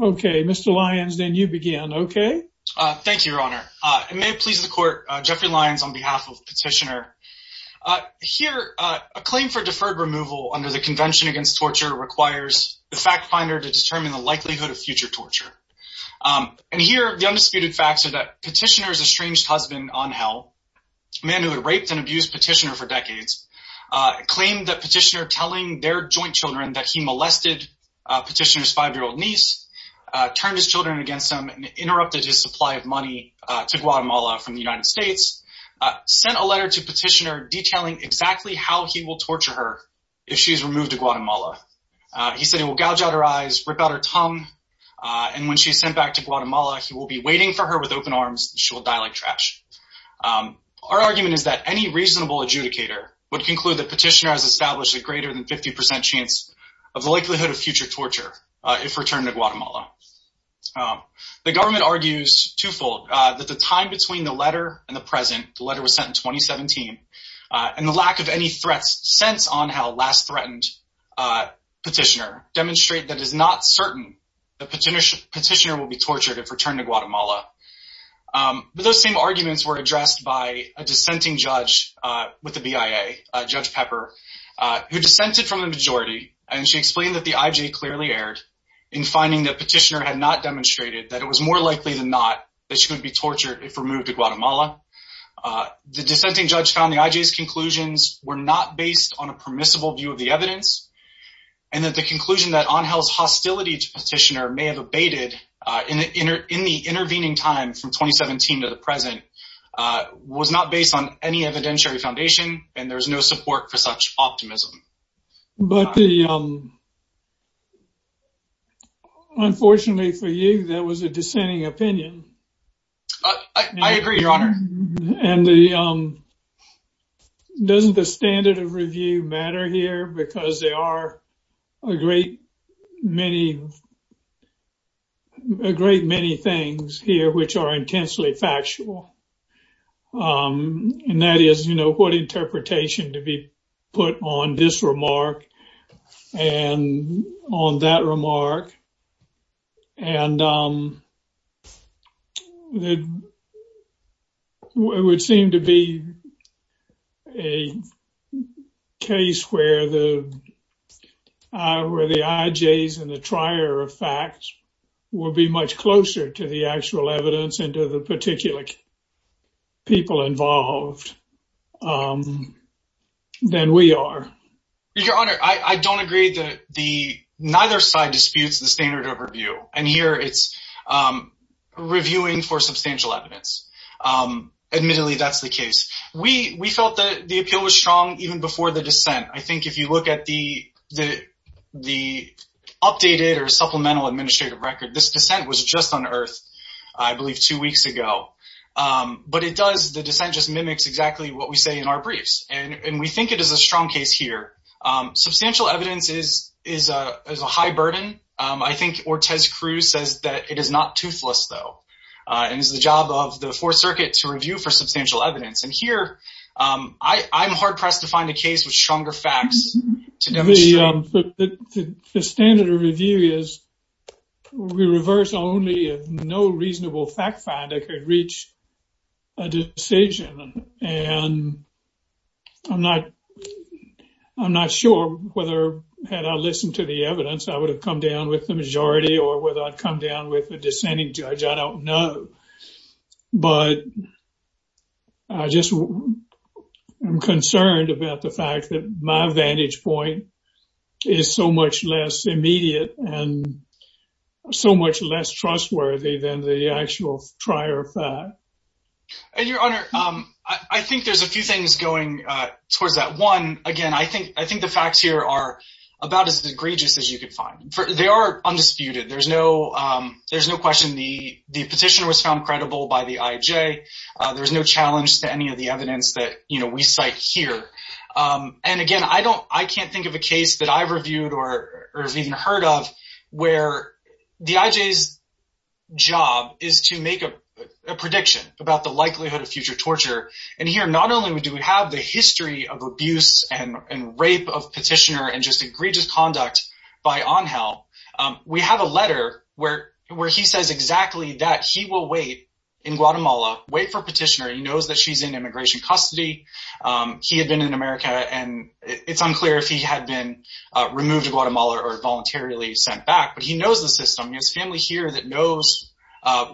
Okay, Mr. Lyons, then you begin, okay? Thank you, Your Honor. It may please the court, Jeffrey Lyons, on behalf of Petitioner. Here, a claim for deferred removal under the Convention Against Torture requires the fact finder to determine the likelihood of future torture. And here, the undisputed facts are that Petitioner's estranged husband, Angel, a man who had raped and abused Petitioner for decades, claimed that Petitioner telling their turned his children against him and interrupted his supply of money to Guatemala from the United States, sent a letter to Petitioner detailing exactly how he will torture her if she's removed to Guatemala. He said he will gouge out her eyes, rip out her tongue, and when she's sent back to Guatemala, he will be waiting for her with open arms. She will die like trash. Our argument is that any reasonable adjudicator would conclude that Petitioner has established a greater than reasonable claim. The government argues twofold, that the time between the letter and the present, the letter was sent in 2017, and the lack of any threats since on how last threatened Petitioner demonstrate that it is not certain that Petitioner will be tortured if returned to Guatemala. But those same arguments were addressed by a dissenting judge with the BIA, Judge Pepper, who dissented from the majority, and she explained that the IJ clearly erred in finding that Petitioner had not demonstrated that it was more likely than not that she would be tortured if removed to Guatemala. The dissenting judge found the IJ's conclusions were not based on a permissible view of the evidence, and that the conclusion that Angel's hostility to Petitioner may have abated in the intervening time from 2017 to the present was not based on any Unfortunately for you, that was a dissenting opinion. I agree, your honor. And the, um, doesn't the standard of review matter here? Because there are a great many, a great many things here which are intensely factual. And that is, you know, what interpretation to be put on this remark and on that remark. And, it would seem to be a case where the IJs and the trier of facts will be much closer to the actual evidence and to the particular people involved than we are. Your honor, I don't agree that the, neither side disputes the standard of review. And here it's reviewing for substantial evidence. Admittedly, that's the case. We felt that the appeal was strong even before the dissent. I think if you look at the updated or supplemental administrative record, this dissent was just unearthed, I believe, two weeks ago. But it does, the dissent just mimics exactly what we say in our briefs. And we think it is a strong case here. Substantial evidence is a high burden. I think Ortiz-Cruz says that it is not toothless though. And it's the job of the Fourth Circuit to review for substantial evidence. And here, I'm hard pressed to find a reasonable fact finder that could reach a decision. And I'm not sure whether, had I listened to the evidence, I would have come down with the majority or whether I'd come down with a dissenting judge. I don't know. But I just am concerned about the fact that my vantage point is so much less immediate and so much less trustworthy than the actual prior fact. And your Honor, I think there's a few things going towards that. One, again, I think the facts here are about as egregious as you can find. They are undisputed. There's no question the petitioner was found credible by the IJ. There's no challenge to any of the evidence that we cite here. And I can't think of a case that I've reviewed or even heard of where the IJ's job is to make a prediction about the likelihood of future torture. And here, not only do we have the history of abuse and rape of petitioner and just egregious conduct by Angel, we have a letter where he says exactly that. He will wait in Guatemala, wait for petitioner. He knows that she's in immigration custody. He had been in America, and it's unclear if he had been removed to Guatemala or voluntarily sent back. But he knows the system. He has family here that knows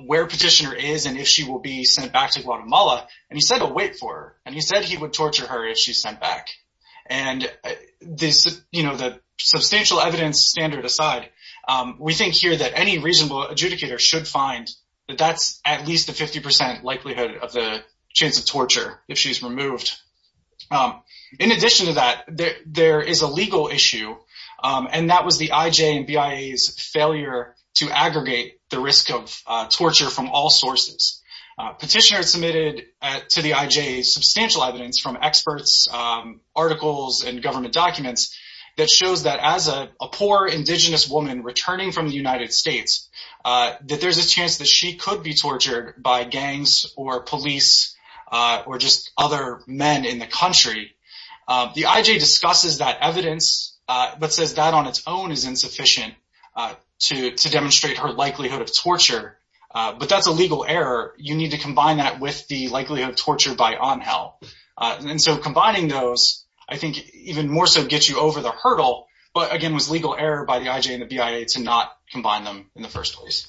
where petitioner is and if she will be sent back to Guatemala. And he said he'll wait for her. And he said he would torture her if she's sent back. And the substantial evidence standard aside, we think here that any reasonable adjudicator should find that that's at least a 50 percent likelihood of the chance of she's removed. In addition to that, there is a legal issue, and that was the IJ and BIA's failure to aggregate the risk of torture from all sources. Petitioner submitted to the IJ substantial evidence from experts, articles, and government documents that shows that as a poor indigenous woman returning from the United States, that there's a chance that she could be tortured by gangs or police or just other men in the country. The IJ discusses that evidence, but says that on its own is insufficient to demonstrate her likelihood of torture. But that's a legal error. You need to combine that with the likelihood of torture by ANHEL. And so combining those, I think, even more so gets you over the hurdle. But again, it was legal error by the IJ and the BIA to not combine them in the first place.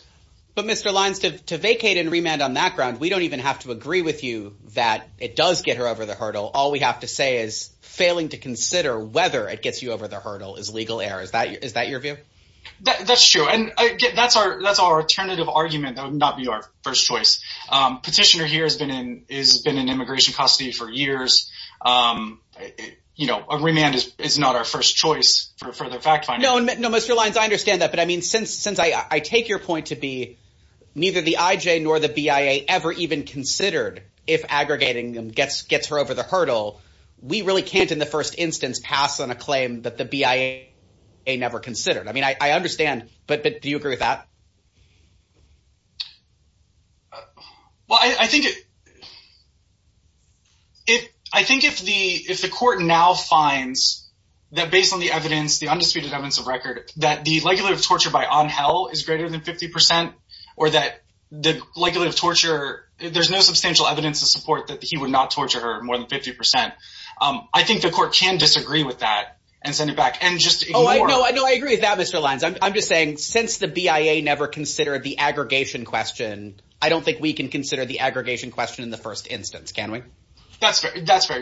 But Mr. Lyons, to vacate and remand on that ground, we don't even have to agree with you that it does get her over the hurdle. All we have to say is failing to consider whether it gets you over the hurdle is legal error. Is that your view? That's true. And that's our alternative argument. That would not be our first choice. Petitioner here has been in immigration custody for years. You know, a remand is not our first choice for further fact-finding. No, Mr. Lyons, I understand that. But I mean, since I take your point to be neither the IJ nor the BIA ever even considered if aggregating them gets her over the hurdle, we really can't in the first instance pass on a claim that the BIA never considered. I mean, I understand. But do you agree with that? Well, I think if the court now finds that based on the evidence, the undisputed evidence of record, that the legality of torture by Angel is greater than 50 percent or that the legality of torture, there's no substantial evidence to support that he would not torture her more than 50 percent. I think the court can disagree with that and send it back and just ignore it. No, I agree with that, Mr. Lyons. I'm just saying since the BIA never considered the aggregation question, I don't think we can consider the aggregation question in the first instance, can we? That's fair. That's fair.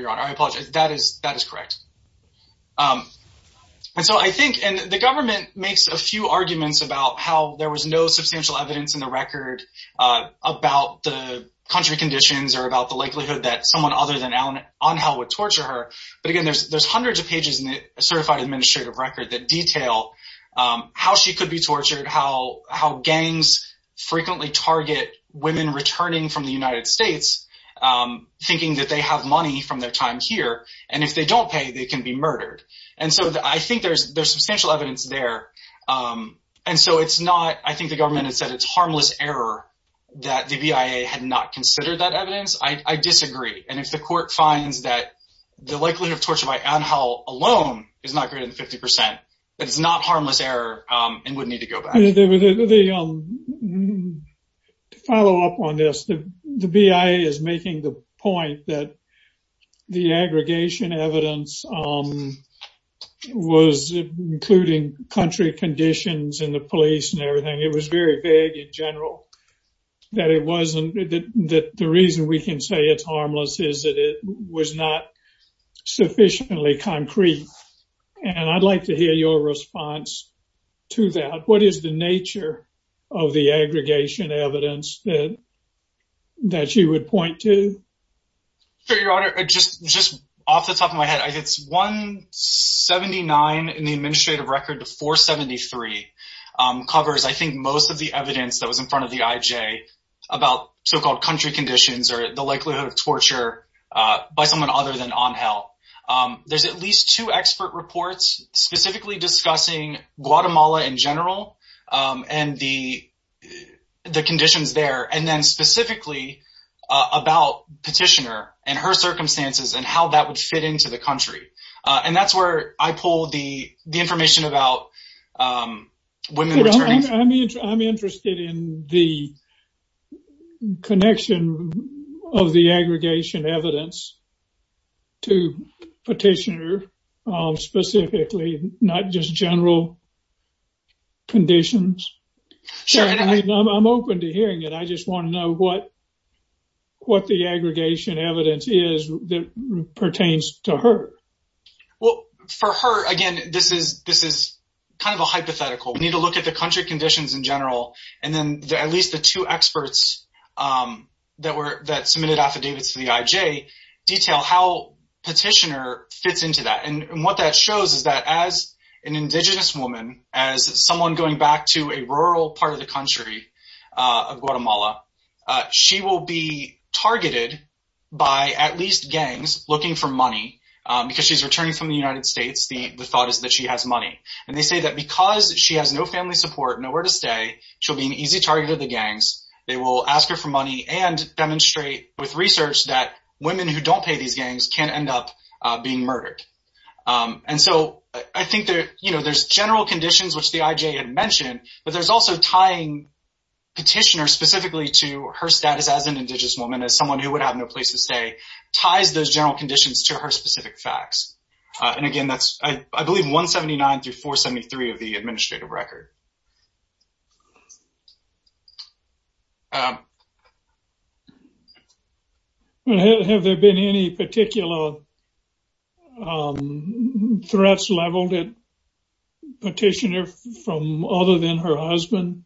And so I think and the government makes a few arguments about how there was no substantial evidence in the record about the country conditions or about the likelihood that someone other than Angel would torture her. But again, there's hundreds of pages in the certified administrative record that detail how she could be tortured, how gangs frequently target women returning from the United States thinking that they have money from their time here. And if they don't pay, they can be murdered. And so I think there's substantial evidence there. And so it's not, I think the government has said it's harmless error that the BIA had not considered that evidence. I disagree. And if the court finds that the likelihood of torture by Angel alone is not greater than 50 percent, it's not harmless error and would need to go back. The follow up on this, the BIA is making the point that the aggregation evidence was including country conditions and the police and everything. It was very vague in general that it wasn't that the reason we can say it's harmless is that it was not sufficiently concrete. And I'd like to hear your response to that. What is the nature of the aggregation evidence that you would point to? Sure, Your Honor. Just off the top of my head, it's 179 in the administrative record to 473 covers, I think, most of the evidence that was in front of the IJ about so-called country conditions or the likelihood of torture by someone other than Angel. There's at least two expert reports specifically discussing Guatemala in general and the conditions there, and then specifically about Petitioner and her circumstances and how that would fit into the country. And that's where I pulled the information about women returning. I'm interested in the connection of the aggregation evidence to Petitioner specifically, not just general conditions. I'm open to hearing it. I just want to know what the aggregation evidence is that pertains to her. Well, for her, again, this is kind of a hypothetical. We need to look at the country conditions in general, and then at least the two experts that submitted affidavits to the IJ detail how Petitioner fits into that. And what that shows is that as an indigenous woman, as someone going back to a rural part of the country of Guatemala, she will be targeted by at least gangs looking for money. Because she's returning from the United States, the thought is that she has money. And they say that because she has no family support, nowhere to stay, she'll be an easy target of the gangs. They will ask her for money and demonstrate with research that women who don't pay these gangs can end up being murdered. And so I think there's general conditions, which the IJ had mentioned, but there's also tying Petitioner specifically to her status as an indigenous woman, as someone who would have no place to stay, ties those general conditions to her specific facts. And again, that's, I believe, 179 through 473 of the administrative record. Have there been any particular threats leveled at Petitioner from other than her husband?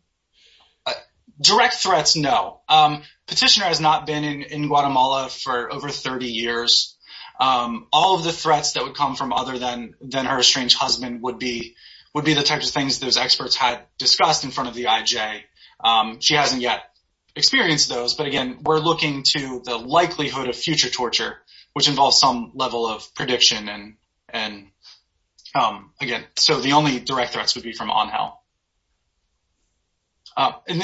Direct threats, no. Petitioner has not been in Guatemala for over 30 years. All of the threats that would come from other than her estranged husband would be the types of things those experts had discussed in front of the IJ. She hasn't yet experienced those. But again, we're looking to the likelihood of future torture, which involves some level of prediction. And again, so the only direct threats would be from Angel. Let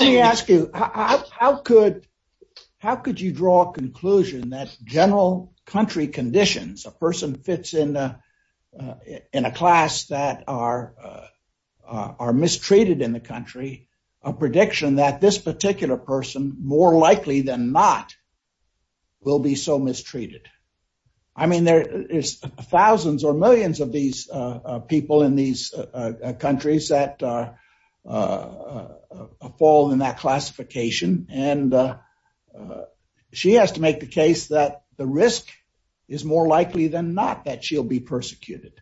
me ask you, how could you draw a conclusion that general country conditions, a person fits in a class that are mistreated in the country, a prediction that this particular person, more likely than not, will be so mistreated? I mean, there is thousands or millions of these people in these countries that fall in that classification. And she has to make the case that the risk is more likely than not that she'll be persecuted.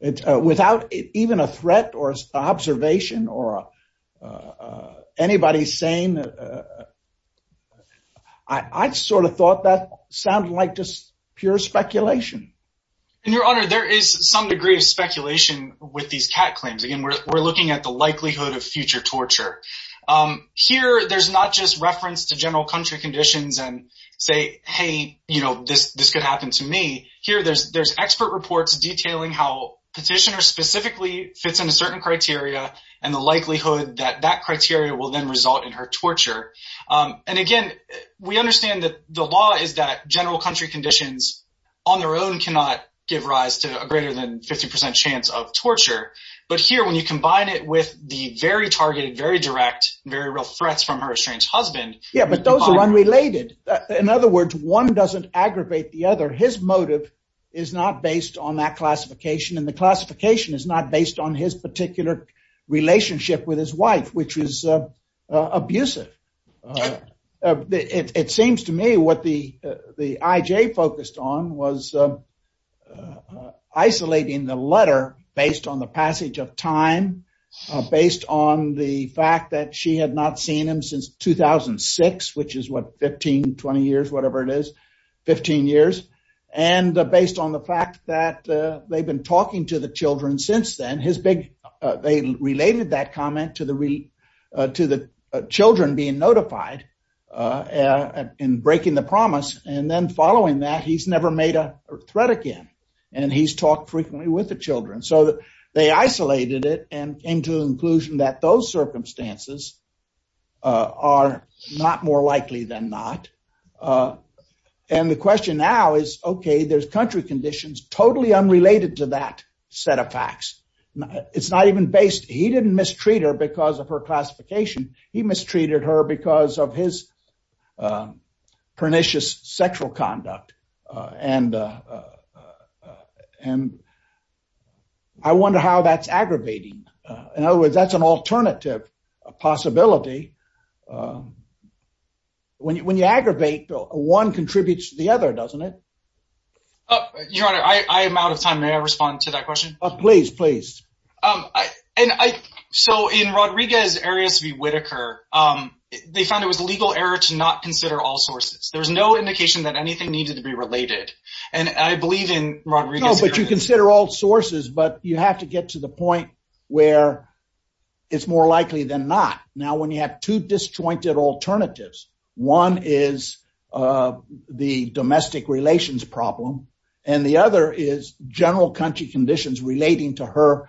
Without even a threat or observation or anybody saying, I sort of thought that sounded like just pure speculation. And your honor, there is some degree of speculation with these cat claims. Again, we're looking at the likelihood of future torture. Here, there's not just reference to general country conditions and say, hey, you know, this could happen to me. Here, there's expert reports detailing how Petitioner specifically fits in a certain criteria and the likelihood that that criteria will then result in her torture. And again, we understand that the law is that general country conditions on their own cannot give rise to a greater than 50% chance of torture. But here, when you combine it with the very targeted, very direct, very real threats from her estranged husband. Yeah, but those are unrelated. In other words, one doesn't aggravate the other. His motive is not based on that classification. And the classification is not based on his particular relationship with his wife, which is abusive. It seems to me what the IJ focused on was isolating the letter based on the passage of time, based on the fact that she had not seen him since 2006, which is what 15, 20 years, whatever it is, 15 years. And based on the fact that they've been talking to the children since then, they related that comment to the children being notified and breaking the promise. And then following that, he's never made a threat again. And he's talked frequently with the children. So they isolated it and came to the conclusion that those circumstances are not more likely than not. And the question now is, okay, there's country conditions totally unrelated to that set of facts. It's not even based. He didn't mistreat her because of her classification. He mistreated her because of his pernicious sexual conduct. And I wonder how that's aggravating. In other words, that's an alternative possibility. When you aggravate, one contributes to the other, doesn't it? Your Honor, I am out of time. May I respond to that question? Please, please. So in Rodriguez-Arias v. Whitaker, they found it was legal error to not consider all sources. There was no indication that anything needed to be related. And I believe in Rodriguez-Arias. You consider all sources, but you have to get to the point where it's more likely than not. Now, when you have two disjointed alternatives, one is the domestic relations problem, and the other is general country conditions relating to her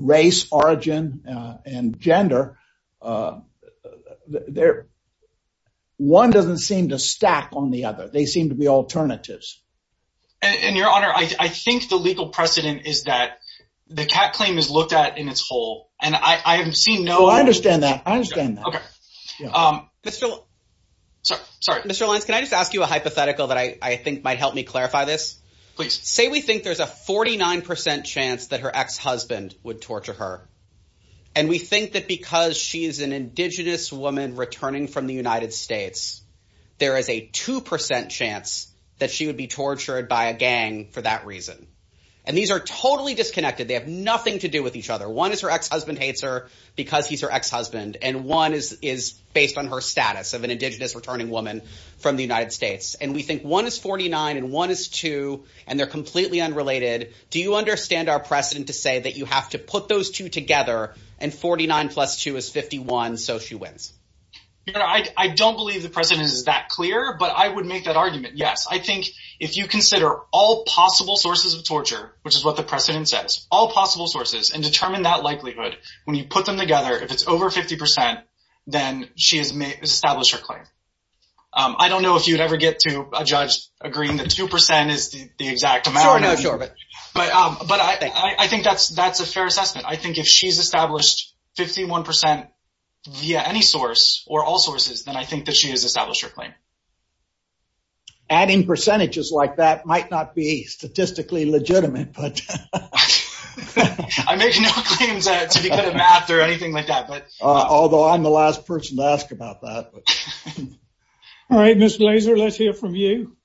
race, origin, and gender. One doesn't seem to stack on the other. They seem to be alternatives. And Your Honor, I think the legal precedent is that the cat claim is looked at in its whole. And I haven't seen no- I understand that. I understand that. Okay. Mr. Lentz, can I just ask you a hypothetical that I think might help me clarify this? Please. Say we think there's a 49% chance that her ex-husband would torture her. And we think that because she is an indigenous woman returning from the United States, there is a 2% chance that she would be tortured by a gang for that reason. And these are totally disconnected. They have nothing to do with each other. One is her ex-husband hates her because he's her ex-husband, and one is based on her status of an indigenous returning woman from the United States. And we think one is 49 and one is two, and they're completely unrelated. Do you understand our precedent to say that you have to put those two together and 49 plus two is 51, so she wins? I don't believe the precedent is that clear, but I would make that argument, yes. I think if you consider all possible sources of torture, which is what the precedent says, all possible sources, and determine that likelihood, when you put them together, if it's over 50%, then she has established her claim. I don't know if you'd ever get to a judge agreeing that 2% is the exact amount. Sure, no, sure. But I think that's a fair assessment. I think if she's established 51% via any source or all sources, then I think that she has established her claim. Adding percentages like that might not be statistically legitimate, but... I make no claims to be good at math or anything like that, but... Although I'm the last person to ask about that. All right, Ms. Glazer, let's hear from you.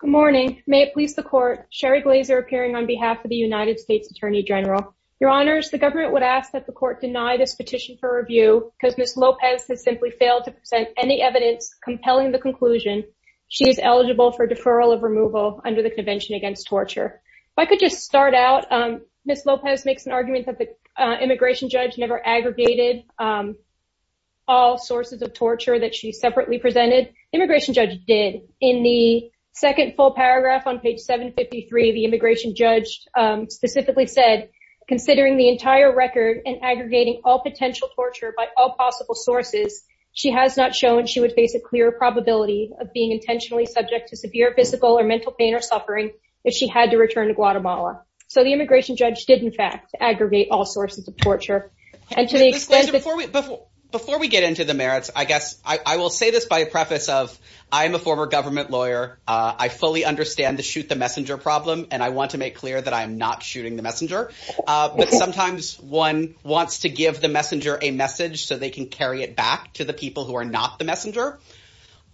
Good morning. May it please the court, Sherry Glazer appearing on behalf of the United States Attorney General. Your Honors, the government would ask that the court deny this petition for review because Ms. Lopez has simply failed to present any evidence compelling the conclusion she is eligible for deferral of removal under the Convention Against Torture. If I could just start out, Ms. Lopez makes an argument that the immigration judge never aggregated all sources of torture that she separately presented. The immigration paragraph on page 753, the immigration judge specifically said, considering the entire record and aggregating all potential torture by all possible sources, she has not shown she would face a clear probability of being intentionally subject to severe physical or mental pain or suffering if she had to return to Guatemala. So the immigration judge did, in fact, aggregate all sources of torture. And to the extent that... Ms. Glazer, before we get into the merits, I guess I will say this by a preface of, I am a former government lawyer. I fully understand the shoot the messenger problem, and I want to make clear that I am not shooting the messenger. But sometimes one wants to give the messenger a message so they can carry it back to the people who are not the messenger.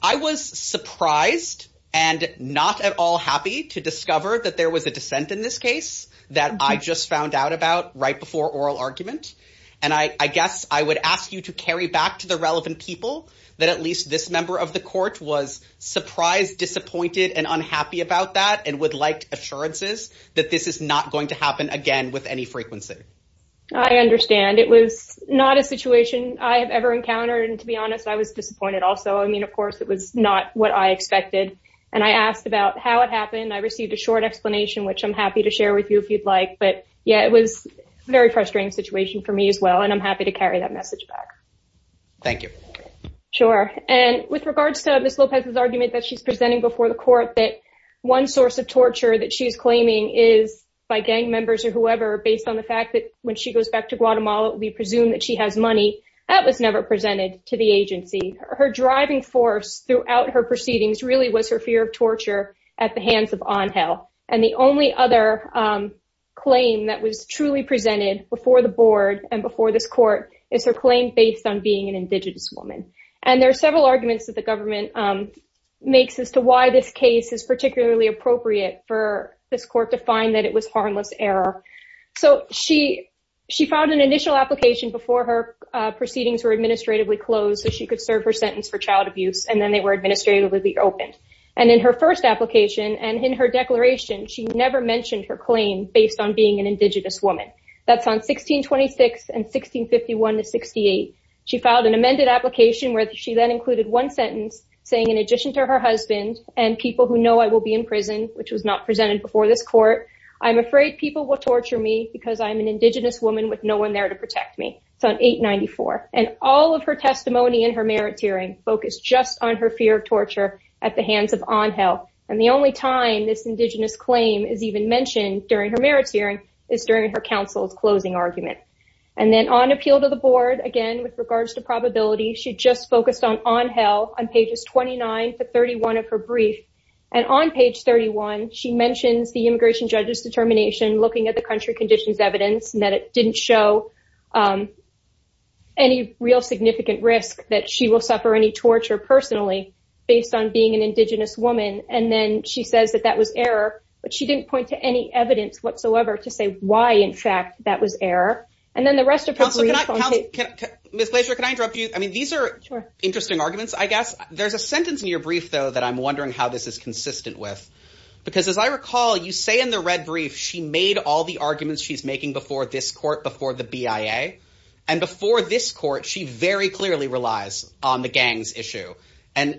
I was surprised and not at all happy to discover that there was a dissent in this case that I just found out about right before oral argument. And I guess I would ask you to carry back to the relevant people that at least this member of the court was surprised, disappointed, and unhappy about that and would like assurances that this is not going to happen again with any frequency. I understand. It was not a situation I have ever encountered. And to be honest, I was disappointed also. I mean, of course, it was not what I expected. And I asked about how it happened. I received a short explanation, which I'm happy to share with you if you'd like. But yeah, it was very frustrating situation for me as well. And I'm happy to carry that message back. Thank you. Sure. And with regards to Ms. Lopez's argument that she's presenting before the court that one source of torture that she's claiming is by gang members or whoever, based on the fact that when she goes back to Guatemala, we presume that she has money, that was never presented to the agency. Her driving force throughout her proceedings really was her fear of torture at the hands of Angel. And the only other claim that was truly presented before the board and an indigenous woman. And there are several arguments that the government makes as to why this case is particularly appropriate for this court to find that it was harmless error. So she filed an initial application before her proceedings were administratively closed, so she could serve her sentence for child abuse. And then they were administratively reopened. And in her first application and in her declaration, she never mentioned her claim based on being an indigenous woman. That's on 1626 and 1651 to 68. She filed an amended application where she then included one sentence saying in addition to her husband and people who know I will be in prison, which was not presented before this court, I'm afraid people will torture me because I'm an indigenous woman with no one there to protect me. It's on 894. And all of her testimony in her merit hearing focused just on her fear of torture at the hands of Angel. And the only time this indigenous claim is even mentioned during her merit hearing is during her counsel's closing argument. And then on appeal to the board, again, with regards to probability, she just focused on Angel on pages 29 to 31 of her brief. And on page 31, she mentions the immigration judge's determination looking at the country conditions evidence and that it didn't show any real significant risk that she will suffer any And then she says that that was error, but she didn't point to any evidence whatsoever to say why, in fact, that was error. And then the rest of her. Miss Glaser, can I interrupt you? I mean, these are interesting arguments, I guess. There's a sentence in your brief, though, that I'm wondering how this is consistent with. Because as I recall, you say in the red brief, she made all the arguments she's making before this court before the BIA. And before this court, she very clearly relies on the gangs issue. And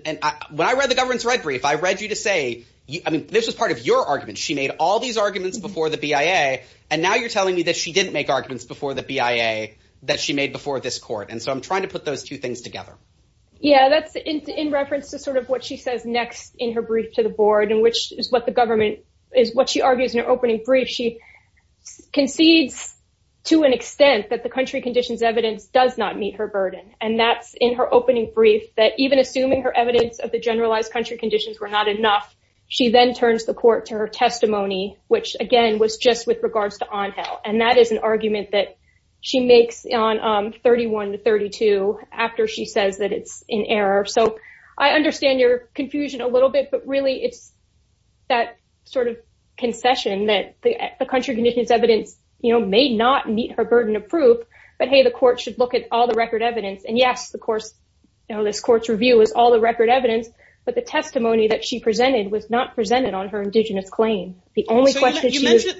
when I read the government's red brief, I read you to say, I mean, this was part of your argument. She made all these arguments before the BIA. And now you're telling me that she didn't make arguments before the BIA that she made before this court. And so I'm trying to put those two things together. Yeah, that's in reference to sort of what she says next in her brief to the board, and which is what the government is, what she argues in her opening brief. She concedes to an extent that the country conditions evidence does not meet her burden. And that's in her opening brief that even assuming her evidence of the generalized country conditions were not enough, she then turns the court to her testimony, which, again, was just with regards to on held. And that is an argument that she makes on 31 to 32 after she says that it's in error. So I understand your confusion a little bit. But really, it's that sort of concession that the country conditions evidence, you know, may not meet her burden of proof. But hey, the court should look at all the record evidence. And yes, of course, you know, this court's review is all the record evidence. But the testimony that she presented was not presented on her indigenous claim. The only question is,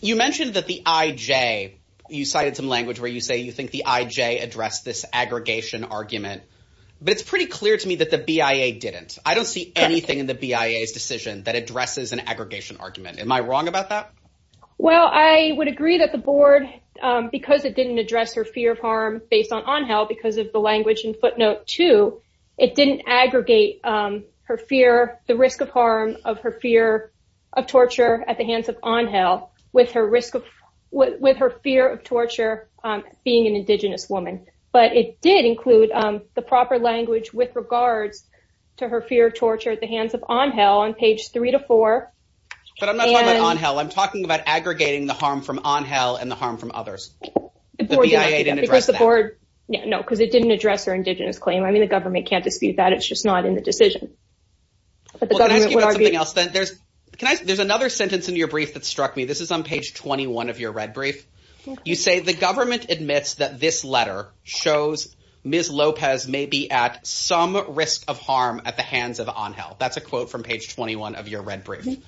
you mentioned that the IJ, you cited some language where you say you think the IJ addressed this aggregation argument. But it's pretty clear to me that the BIA didn't. I don't see anything in the BIA's decision that addresses an aggregation argument. Am I wrong about that? Well, I would agree that the board, because it didn't address her fear of harm based on on health because of the language in footnote two, it didn't aggregate her fear, the risk of harm of her fear of torture at the hands of on health with her risk of what with her fear of torture being an indigenous woman. But it did include the proper language with regards to her fear of torture at the hands of on hell on page three to four. But I'm not on hell. I'm talking about aggregating the harm from on hell and the harm from others because the board, you know, because it didn't address her indigenous claim. I mean, the government can't dispute that. It's just not in the decision. There's another sentence in your brief that struck me. This is on page 21 of your red brief. You say the government admits that this letter shows Miss Lopez may be at some risk of harm at hands of on health. That's a quote from page 21 of your red brief.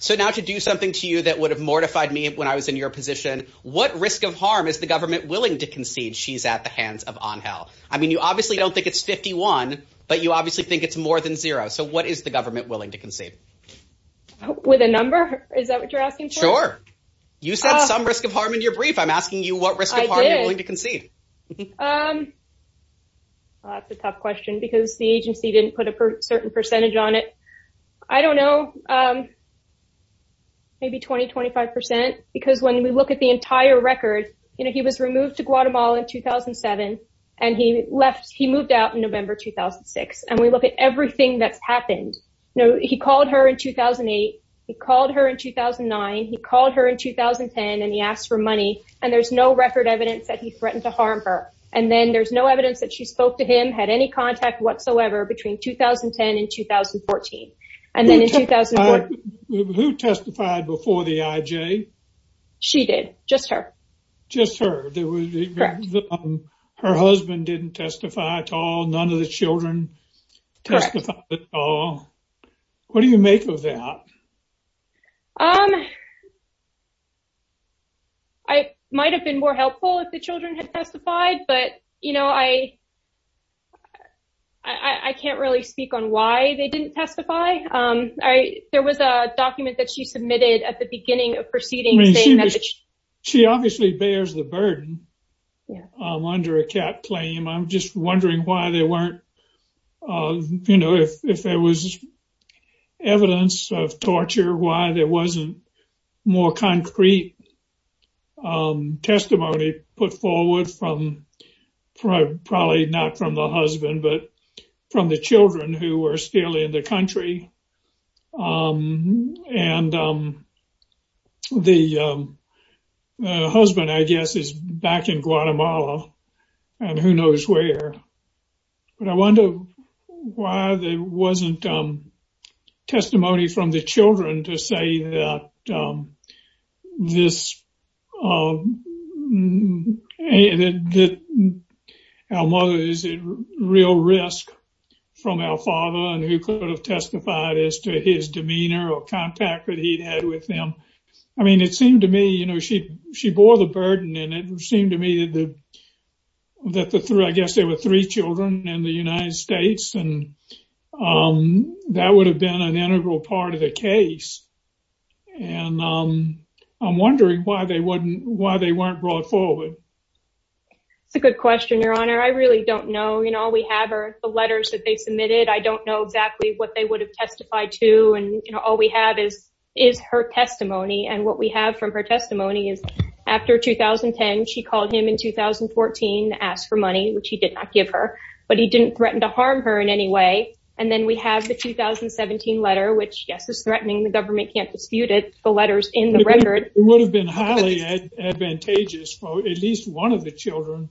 So now to do something to you that would have mortified me when I was in your position. What risk of harm is the government willing to concede? She's at the hands of on health. I mean, you obviously don't think it's 51, but you obviously think it's more than zero. So what is the government willing to concede with a number? Is that what you're asking? Sure. You said some risk of harm in your brief. I'm a certain percentage on it. I don't know. Maybe 20, 25 percent because when we look at the entire record, you know, he was removed to Guatemala in 2007 and he left. He moved out in November 2006 and we look at everything that's happened. He called her in 2008. He called her in 2009. He called her in 2010 and he asked for money. And there's no record evidence that he threatened to harm her. And then there's no evidence that she spoke to him, had any contact whatsoever between 2010 and 2014. Who testified before the IJ? She did. Just her. Just her. Her husband didn't testify at all. None of the children testified at all. What do you make of that? I might have been more helpful if the children had testified, but, you know, I can't really speak on why they didn't testify. There was a document that she submitted at the beginning of proceedings. She obviously bears the burden under a cat claim. I'm just wondering why they weren't, you know, if there was evidence of torture, why there wasn't more concrete testimony put forward from probably not from the husband, but from the children who were still in the country. And the husband, I guess, is back in Guatemala and who knows where. But I wonder why there wasn't testimony from the children to say that our mother is at real risk from our father and who could have testified as to his demeanor or contact that he'd had with them. I mean, it seemed to me, you know, she bore the burden and it seemed to me that I guess there were three children in the United States and that would have been an integral part of the case. And I'm wondering why they weren't brought forward. It's a good question, Your Honor. I really don't know. You know, all we have are the letters that they submitted. I don't know exactly what they would have testified to. And, you know, all we have is her testimony. And what we have from her testimony is after 2010, she called him in 2014, asked for money, which he did not give her, but he didn't threaten to harm her in any way. And then we have the 2017 letter, which, yes, is threatening. The government can't dispute it. The letters in the record. It would have been highly advantageous for at least one of the children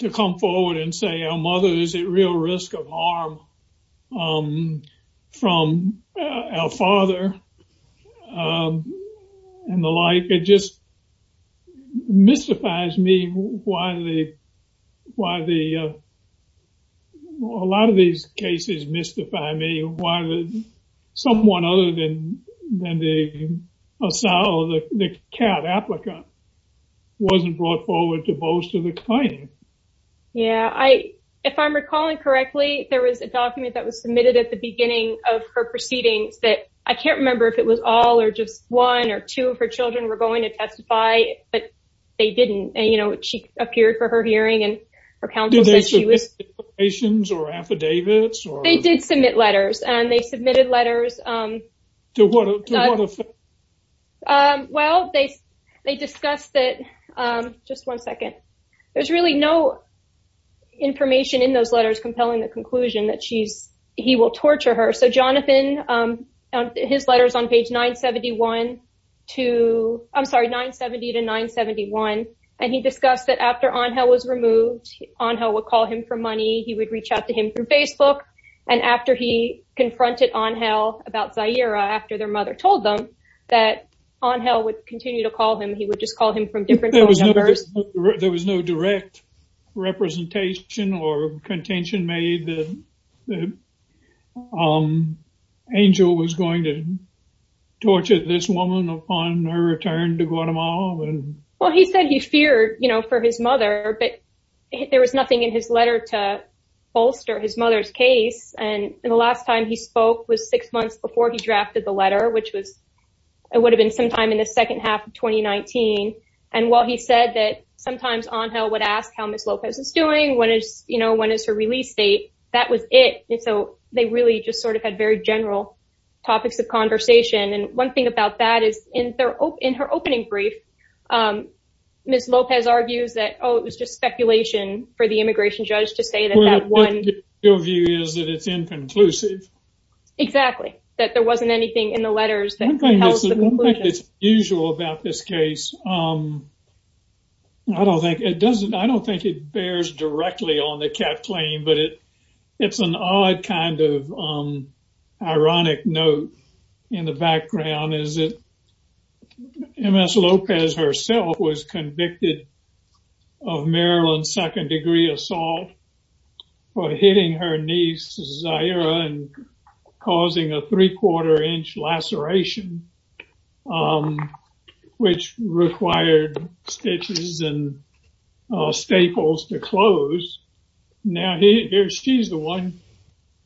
to come forward and say our mother is at real risk of harm from our father and the like. It just mystifies me why a lot of these cases mystify me, why someone other than the CAAT applicant wasn't brought forward to bolster the claim. Yeah. If I'm recalling correctly, there was a document that was submitted at the beginning of her proceedings that I can't remember if it was all or just one or two of her children were going to testify, but they didn't. And, you know, she appeared for her hearing and her counsel said she was... Did they submit applications or affidavits? They did submit letters and they submitted letters. To what effect? Well, they discussed that... Just one second. There's really no information in those letters compelling the conclusion that she's... He will torture her. So Jonathan, his letters on page 971 to... I'm sorry, 970 to 971. And he discussed that after Angel was removed, Angel would call him for money. He would reach out to him through Facebook. And after he confronted Angel about Zahira, after their mother told them that Angel would continue to call him, he would just call him from different numbers. There was no direct representation or contention made that Angel was going to torture this woman upon her return to Guatemala? Well, he said he feared, you know, for his mother, but there was nothing in his letter to bolster his mother's case. And the last time he spoke was six months before he drafted the letter, which was... It would have been sometime in the second half of 2019. And while he said that sometimes Angel would ask how Ms. Lopez is doing, when is, you know, when is her release date? That was it. And so they really just sort of had very general topics of conversation. And one thing about that is in her opening brief, Ms. Lopez argues that, oh, it was just speculation for the immigration judge to say that that one... Your view is that it's inconclusive. Exactly. That there wasn't anything in the letters that... One thing that's unusual about this case, I don't think it does... I don't think it bears directly on the CAP claim, but it's an odd kind of ironic note in the background is that Ms. Lopez herself was convicted of Maryland second degree assault for hitting her niece and causing a three quarter inch laceration, which required stitches and staples to close. Now, here she's the one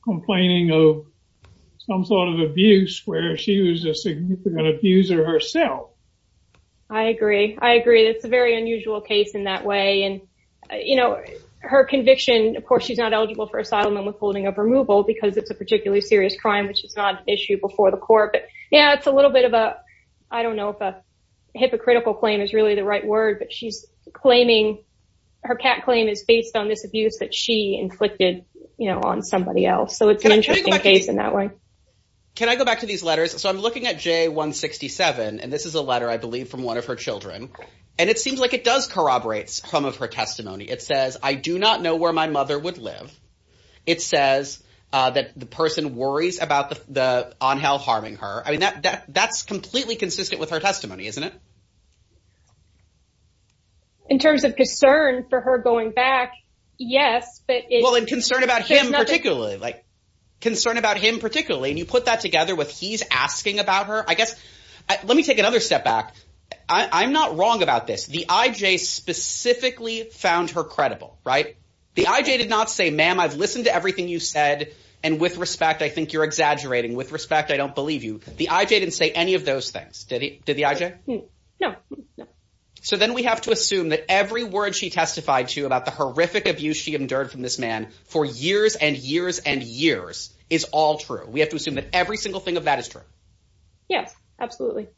complaining of some sort of abuse where she was a significant abuser herself. I agree. I agree. That's a very unusual case in that way. And, you know, her conviction, of course, she's not eligible for asylum and withholding of removal because it's a particularly serious crime, which is not an issue before the court. But yeah, it's a little bit of a, I don't know if a hypocritical claim is really the right word, but she's claiming... Her CAP claim is based on this abuse that she inflicted on somebody else. So it's an interesting case in that way. Can I go back to these letters? So I'm looking at J167, and this is a letter, I believe, from one of her children. And it seems like it does corroborate some of her testimony. It says, I do not know where my mother would live. It says that the person worries about the Angel harming her. I mean, that's completely consistent with her testimony, isn't it? In terms of concern for her going back, yes, but... Well, in concern about him particularly, like concern about him particularly, and you put that together with he's asking about her, I guess. Let me take another step back. I'm not wrong about this. The IJ specifically found her credible, right? The IJ did not say, ma'am, I've listened to everything you said. And with respect, I think you're exaggerating. With respect, I don't believe you. The IJ didn't say any of those things, did the IJ? No, no. So then we have to assume that every word she testified to about the horrific abuse she endured from this man for years and years and years is all true. We have to assume that every single thing of that is true. Yes, absolutely.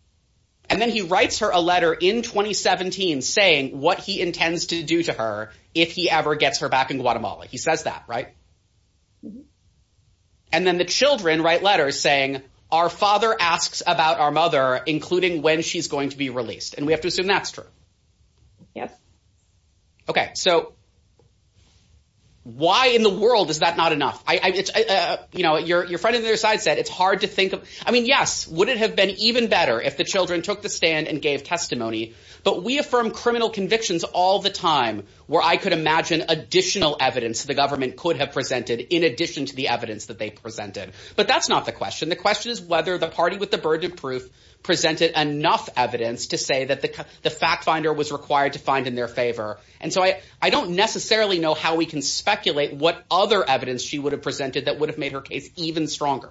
And then he writes her a letter in 2017 saying what he intends to do to her if he ever gets her back in Guatemala. He says that, right? And then the children write letters saying, our father asks about our mother, including when she's going to be released. And we have to assume that's true. Yes. Okay. So why in the world is that not enough? Your friend on the other side said it's hard to think of. I mean, yes, would it have been even better if the children took the stand and gave testimony? But we affirm criminal convictions all the time where I could imagine additional evidence the government could have presented in addition to the evidence that they presented. But that's not the question. The question is whether the party with the burden of proof presented enough evidence to say that the fact finder was required to find in their favor. And so I don't necessarily know how we can speculate what other evidence she would have presented that would have made her case even stronger.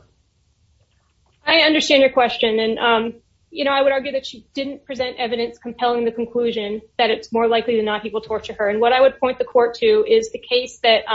I understand your question. And, you know, I would argue that she didn't present evidence compelling the conclusion that it's more likely to not people torture her. And what I would point the court to is the case that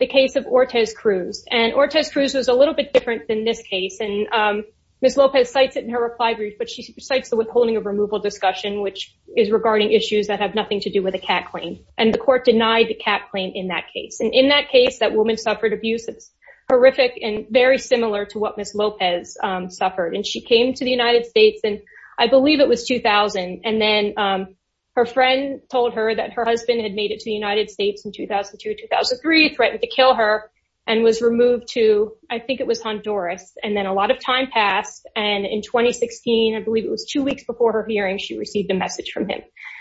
the case of Ortez Cruz and Ortez Cruz was a little bit different than this case. And Ms. Lopez cites it in her reply brief, but she cites the withholding of removal discussion, which is regarding issues that have nothing to do with a cat claim. And the court denied the cat claim in that case. And in that case, that woman suffered abuse. It's very similar to what Ms. Lopez suffered. And she came to the United States and I believe it was 2000. And then her friend told her that her husband had made it to the United States in 2002, 2003, threatened to kill her and was removed to, I think it was Honduras. And then a lot of time passed. And in 2016, I believe it was two weeks before her hearing, she received a message from him.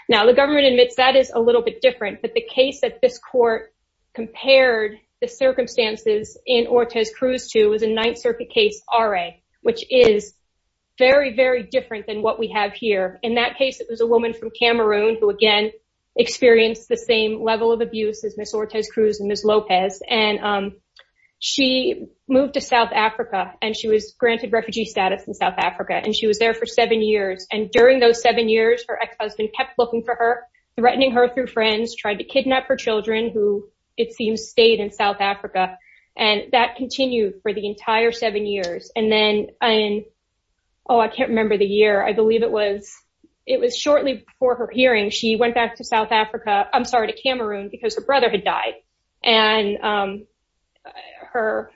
Now the government admits that is a little bit different, but the case that this court compared the circumstances in Ortez Cruz to was a Ninth Circuit case RA, which is very, very different than what we have here. In that case, it was a woman from Cameroon who again, experienced the same level of abuse as Ms. Ortez Cruz and Ms. Lopez. And she moved to South Africa and she was granted refugee status in South Africa. And she was there for seven years. And during those seven years, her ex-husband kept looking for her, threatening her through friends, tried to kidnap her children who it seems stayed in South Africa. And that continued for the entire seven years. And then, oh, I can't remember the year. I believe it was, it was shortly before her hearing. She went back to South Africa, I'm sorry, to Cameroon because her brother had died. And her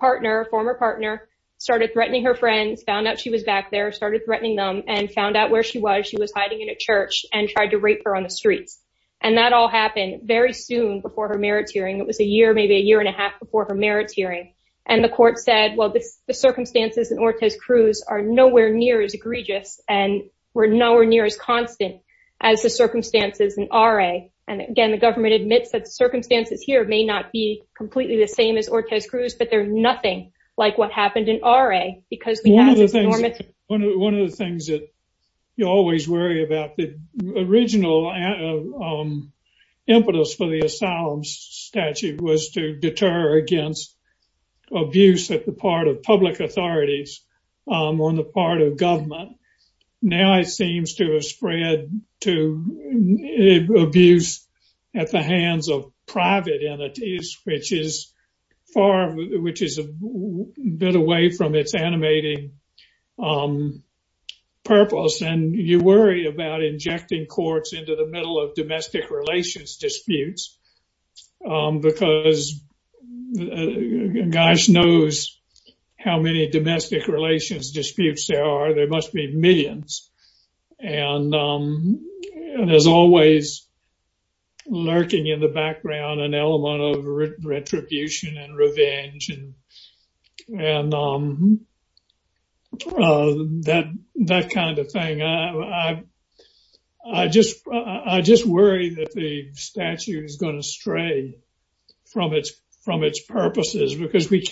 partner, former partner started threatening her friends, found out she was back there, started threatening them and found out where she was. She was hiding in a church and tried to rape her on the streets. And that all happened very soon before her merits hearing. It was a year, maybe a year and a half before her merits hearing. And the court said, well, the circumstances in Ortez Cruz are nowhere near as egregious and we're nowhere near as constant as the circumstances in RA. And again, the government admits that the circumstances here may not be completely the same as Ortez Cruz, but they're nothing like what happened in RA because One of the things that you always worry about the original impetus for the asylum statute was to deter against abuse at the part of public authorities on the part of government. Now, it seems to have spread to abuse at the hands of private entities, which is far, which is a bit away from its animating purpose. And you worry about injecting courts into the middle of domestic relations disputes. Because gosh knows how many domestic relations disputes there are, there must be millions. And there's always lurking in the background an element of retribution and revenge and that kind of thing. I just worry that the statute is going to stray from its purposes because we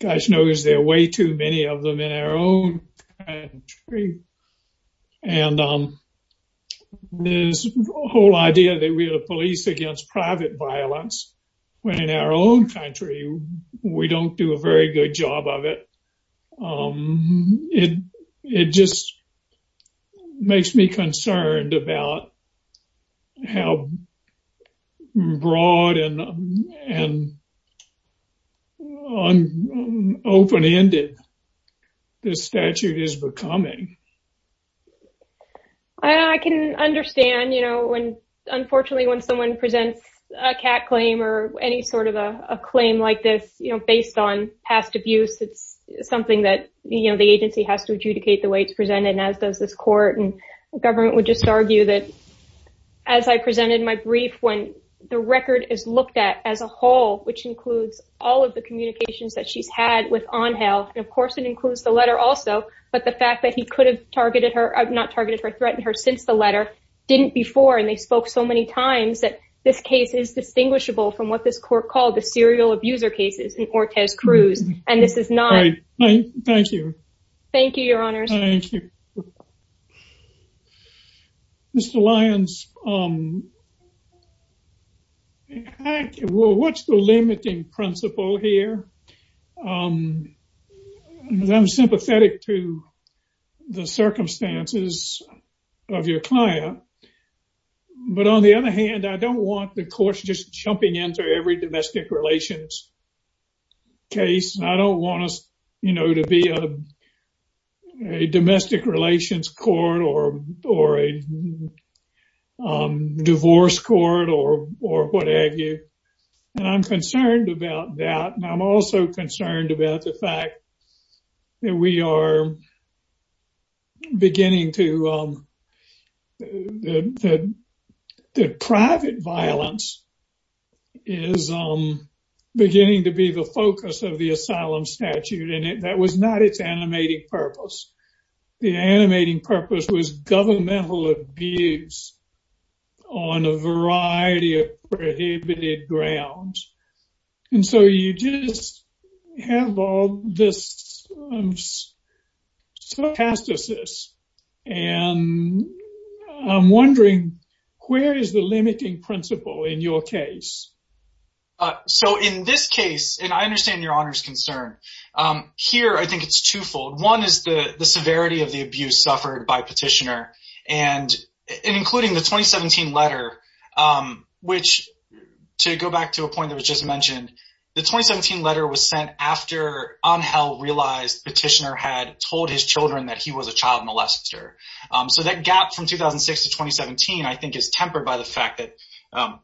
gosh knows there are way too many of them in our own country. And this whole idea that we're the police against private violence, when in our own country, we don't do a very good job of it. It just makes me concerned about how broad and open ended this statute is becoming. I can understand, you know, when, unfortunately, when someone presents a cat claim or any sort of the agency has to adjudicate the way it's presented. And as does this court and government would just argue that, as I presented my brief, when the record is looked at as a whole, which includes all of the communications that she's had with on health, and of course, it includes the letter also, but the fact that he could have targeted her not targeted for threatened her since the letter didn't before and they spoke so many times that this case is distinguishable from what this court called the serial abuser cases in Ortiz-Cruz. And this is not. Thank you. Thank you, Your Honors. Mr. Lyons, what's the limiting principle here? I'm sympathetic to the circumstances of your client. But on the other hand, I don't want the courts just jumping into every domestic relations case. I don't want us, you know, to be a domestic relations court or a divorce court or or what have you. And I'm concerned about that. And I'm also concerned about the fact that we are beginning to the private violence is beginning to be the focus of the asylum statute. And that was not its animating purpose. The animating purpose was this. And I'm wondering, where is the limiting principle in your case? So in this case, and I understand your honor's concern here, I think it's twofold. One is the severity of the abuse suffered by petitioner and including the 2017 letter, which to go back to a after Angel realized petitioner had told his children that he was a child molester. So that gap from 2006 to 2017, I think, is tempered by the fact that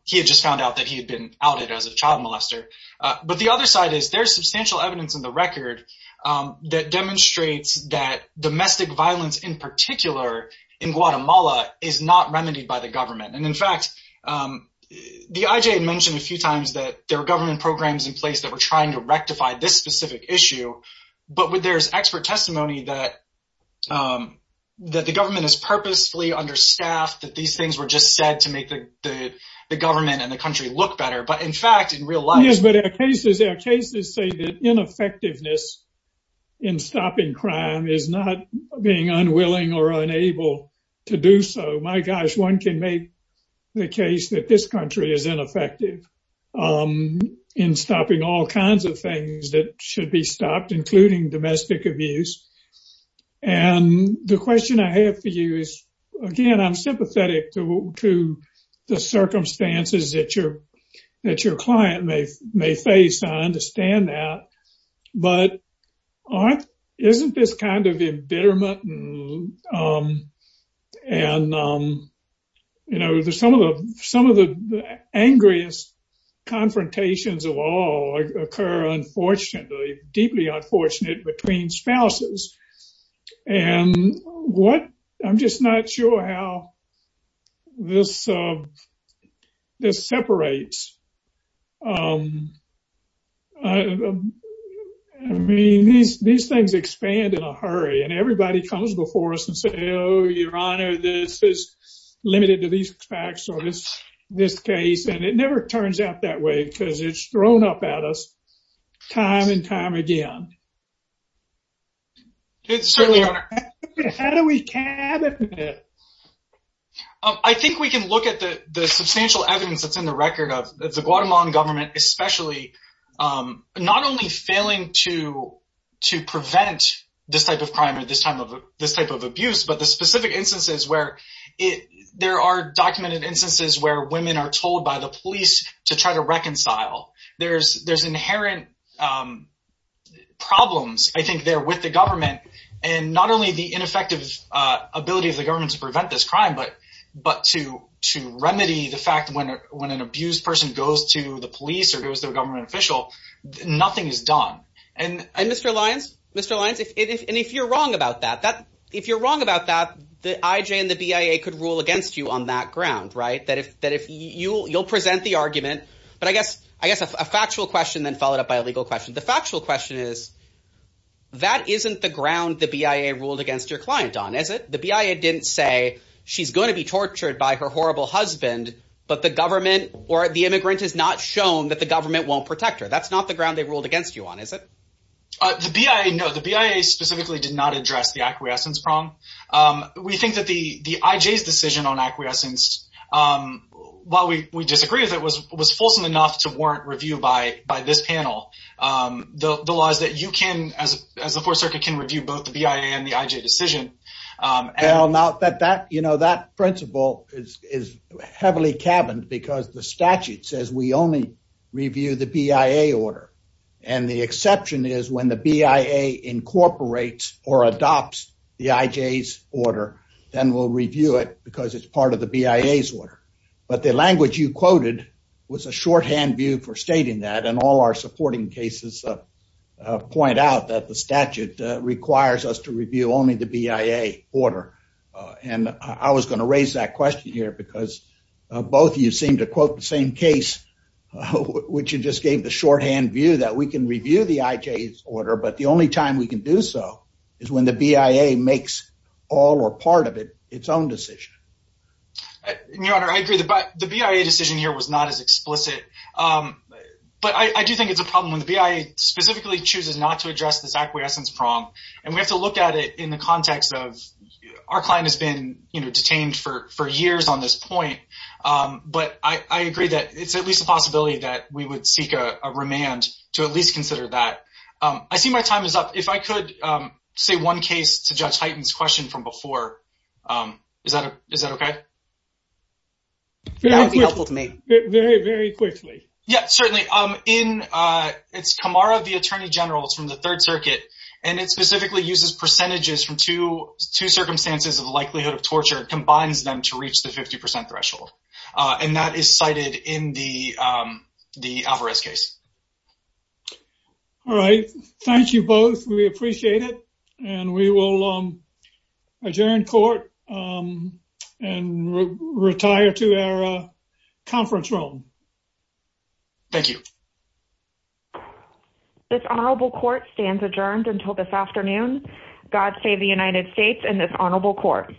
he had just found out that he had been outed as a child molester. But the other side is there's substantial evidence in the record that demonstrates that domestic violence in particular in Guatemala is not remedied by the government. And in fact, the IJ had mentioned a few times that there were government programs in place that were trying to rectify this specific issue. But there's expert testimony that the government is purposefully understaffed, that these things were just said to make the government and the country look better. But in fact, in real life, Yes, but our cases say that ineffectiveness in stopping crime is not being unwilling or unable to do so. My gosh, one can make the case that this country is ineffective in stopping all kinds of things that should be stopped, including domestic abuse. And the question I have for you is, again, I'm sympathetic to the circumstances that your client may face. I understand that. But isn't this kind of embitterment? And, you know, some of the some of the angriest confrontations of all occur, unfortunately, deeply unfortunate between spouses. And what I'm just not sure how this separates. I mean, these things expand in a hurry and everybody comes before us and say, Oh, your honor, this is limited to these facts. So this, this case, and it never turns out that way, because it's thrown up at us time and time again. It's certainly how do we can I think we can look at the substantial evidence that's in the record of the Guatemalan government, especially not only failing to, to prevent this type of crime at this time of this type of abuse, but the specific instances where it there are documented instances where women are told by the police to try to reconcile. There's there's inherent problems, I think, there with the government, and not only the ineffective ability of the government to prevent this crime, but but to to remedy the fact when when an abused person goes to the police or goes to a government official, nothing is done. And Mr. Lyons, Mr. Lyons, if you're wrong about that, that if you're wrong about that, the IJ and the BIA could rule against you on that ground, right? That if that if you you'll present the argument, but I guess I guess a factual question then followed up by a legal question. The factual question is, that isn't the ground the BIA ruled against your client on, is it? The BIA didn't say she's going to be tortured by her horrible husband, but the government or the immigrant is not shown that the government won't protect her. That's not the ground they ruled against you on, is it? The BIA, no, the BIA specifically did not address the acquiescence prong. We think that the the IJ's decision on acquiescence, while we we disagree with it, was was fulsome enough to warrant review by by this panel. The the laws that you can as as the fourth circuit can review both the BIA and the IJ decision. Well now that that you know that principle is is heavily cabined because the statute says we only review the BIA order and the exception is when the BIA incorporates or adopts the IJ's order, then we'll review it because it's part of the BIA's but the language you quoted was a shorthand view for stating that and all our supporting cases point out that the statute requires us to review only the BIA order and I was going to raise that question here because both you seem to quote the same case which you just gave the shorthand view that we can review the IJ's order but the only time we can do so is when the BIA makes all or its own decision. Your honor, I agree that the BIA decision here was not as explicit but I do think it's a problem when the BIA specifically chooses not to address this acquiescence prong and we have to look at it in the context of our client has been you know detained for for years on this point but I agree that it's at least a possibility that we would seek a remand to at least consider that. I see my time is up. If I could say one case to Judge Hyten's question from before, is that okay? That would be helpful to me. Very, very quickly. Yeah, certainly. It's Kamara, the attorney general. It's from the third circuit and it specifically uses percentages from two circumstances of the likelihood of torture and combines them to reach the 50% threshold and that is cited in the Alvarez case. All right, thank you both. We appreciate it and we will adjourn court and retire to our conference room. Thank you. This honorable court stands adjourned until this afternoon. God save the United States and this honorable court.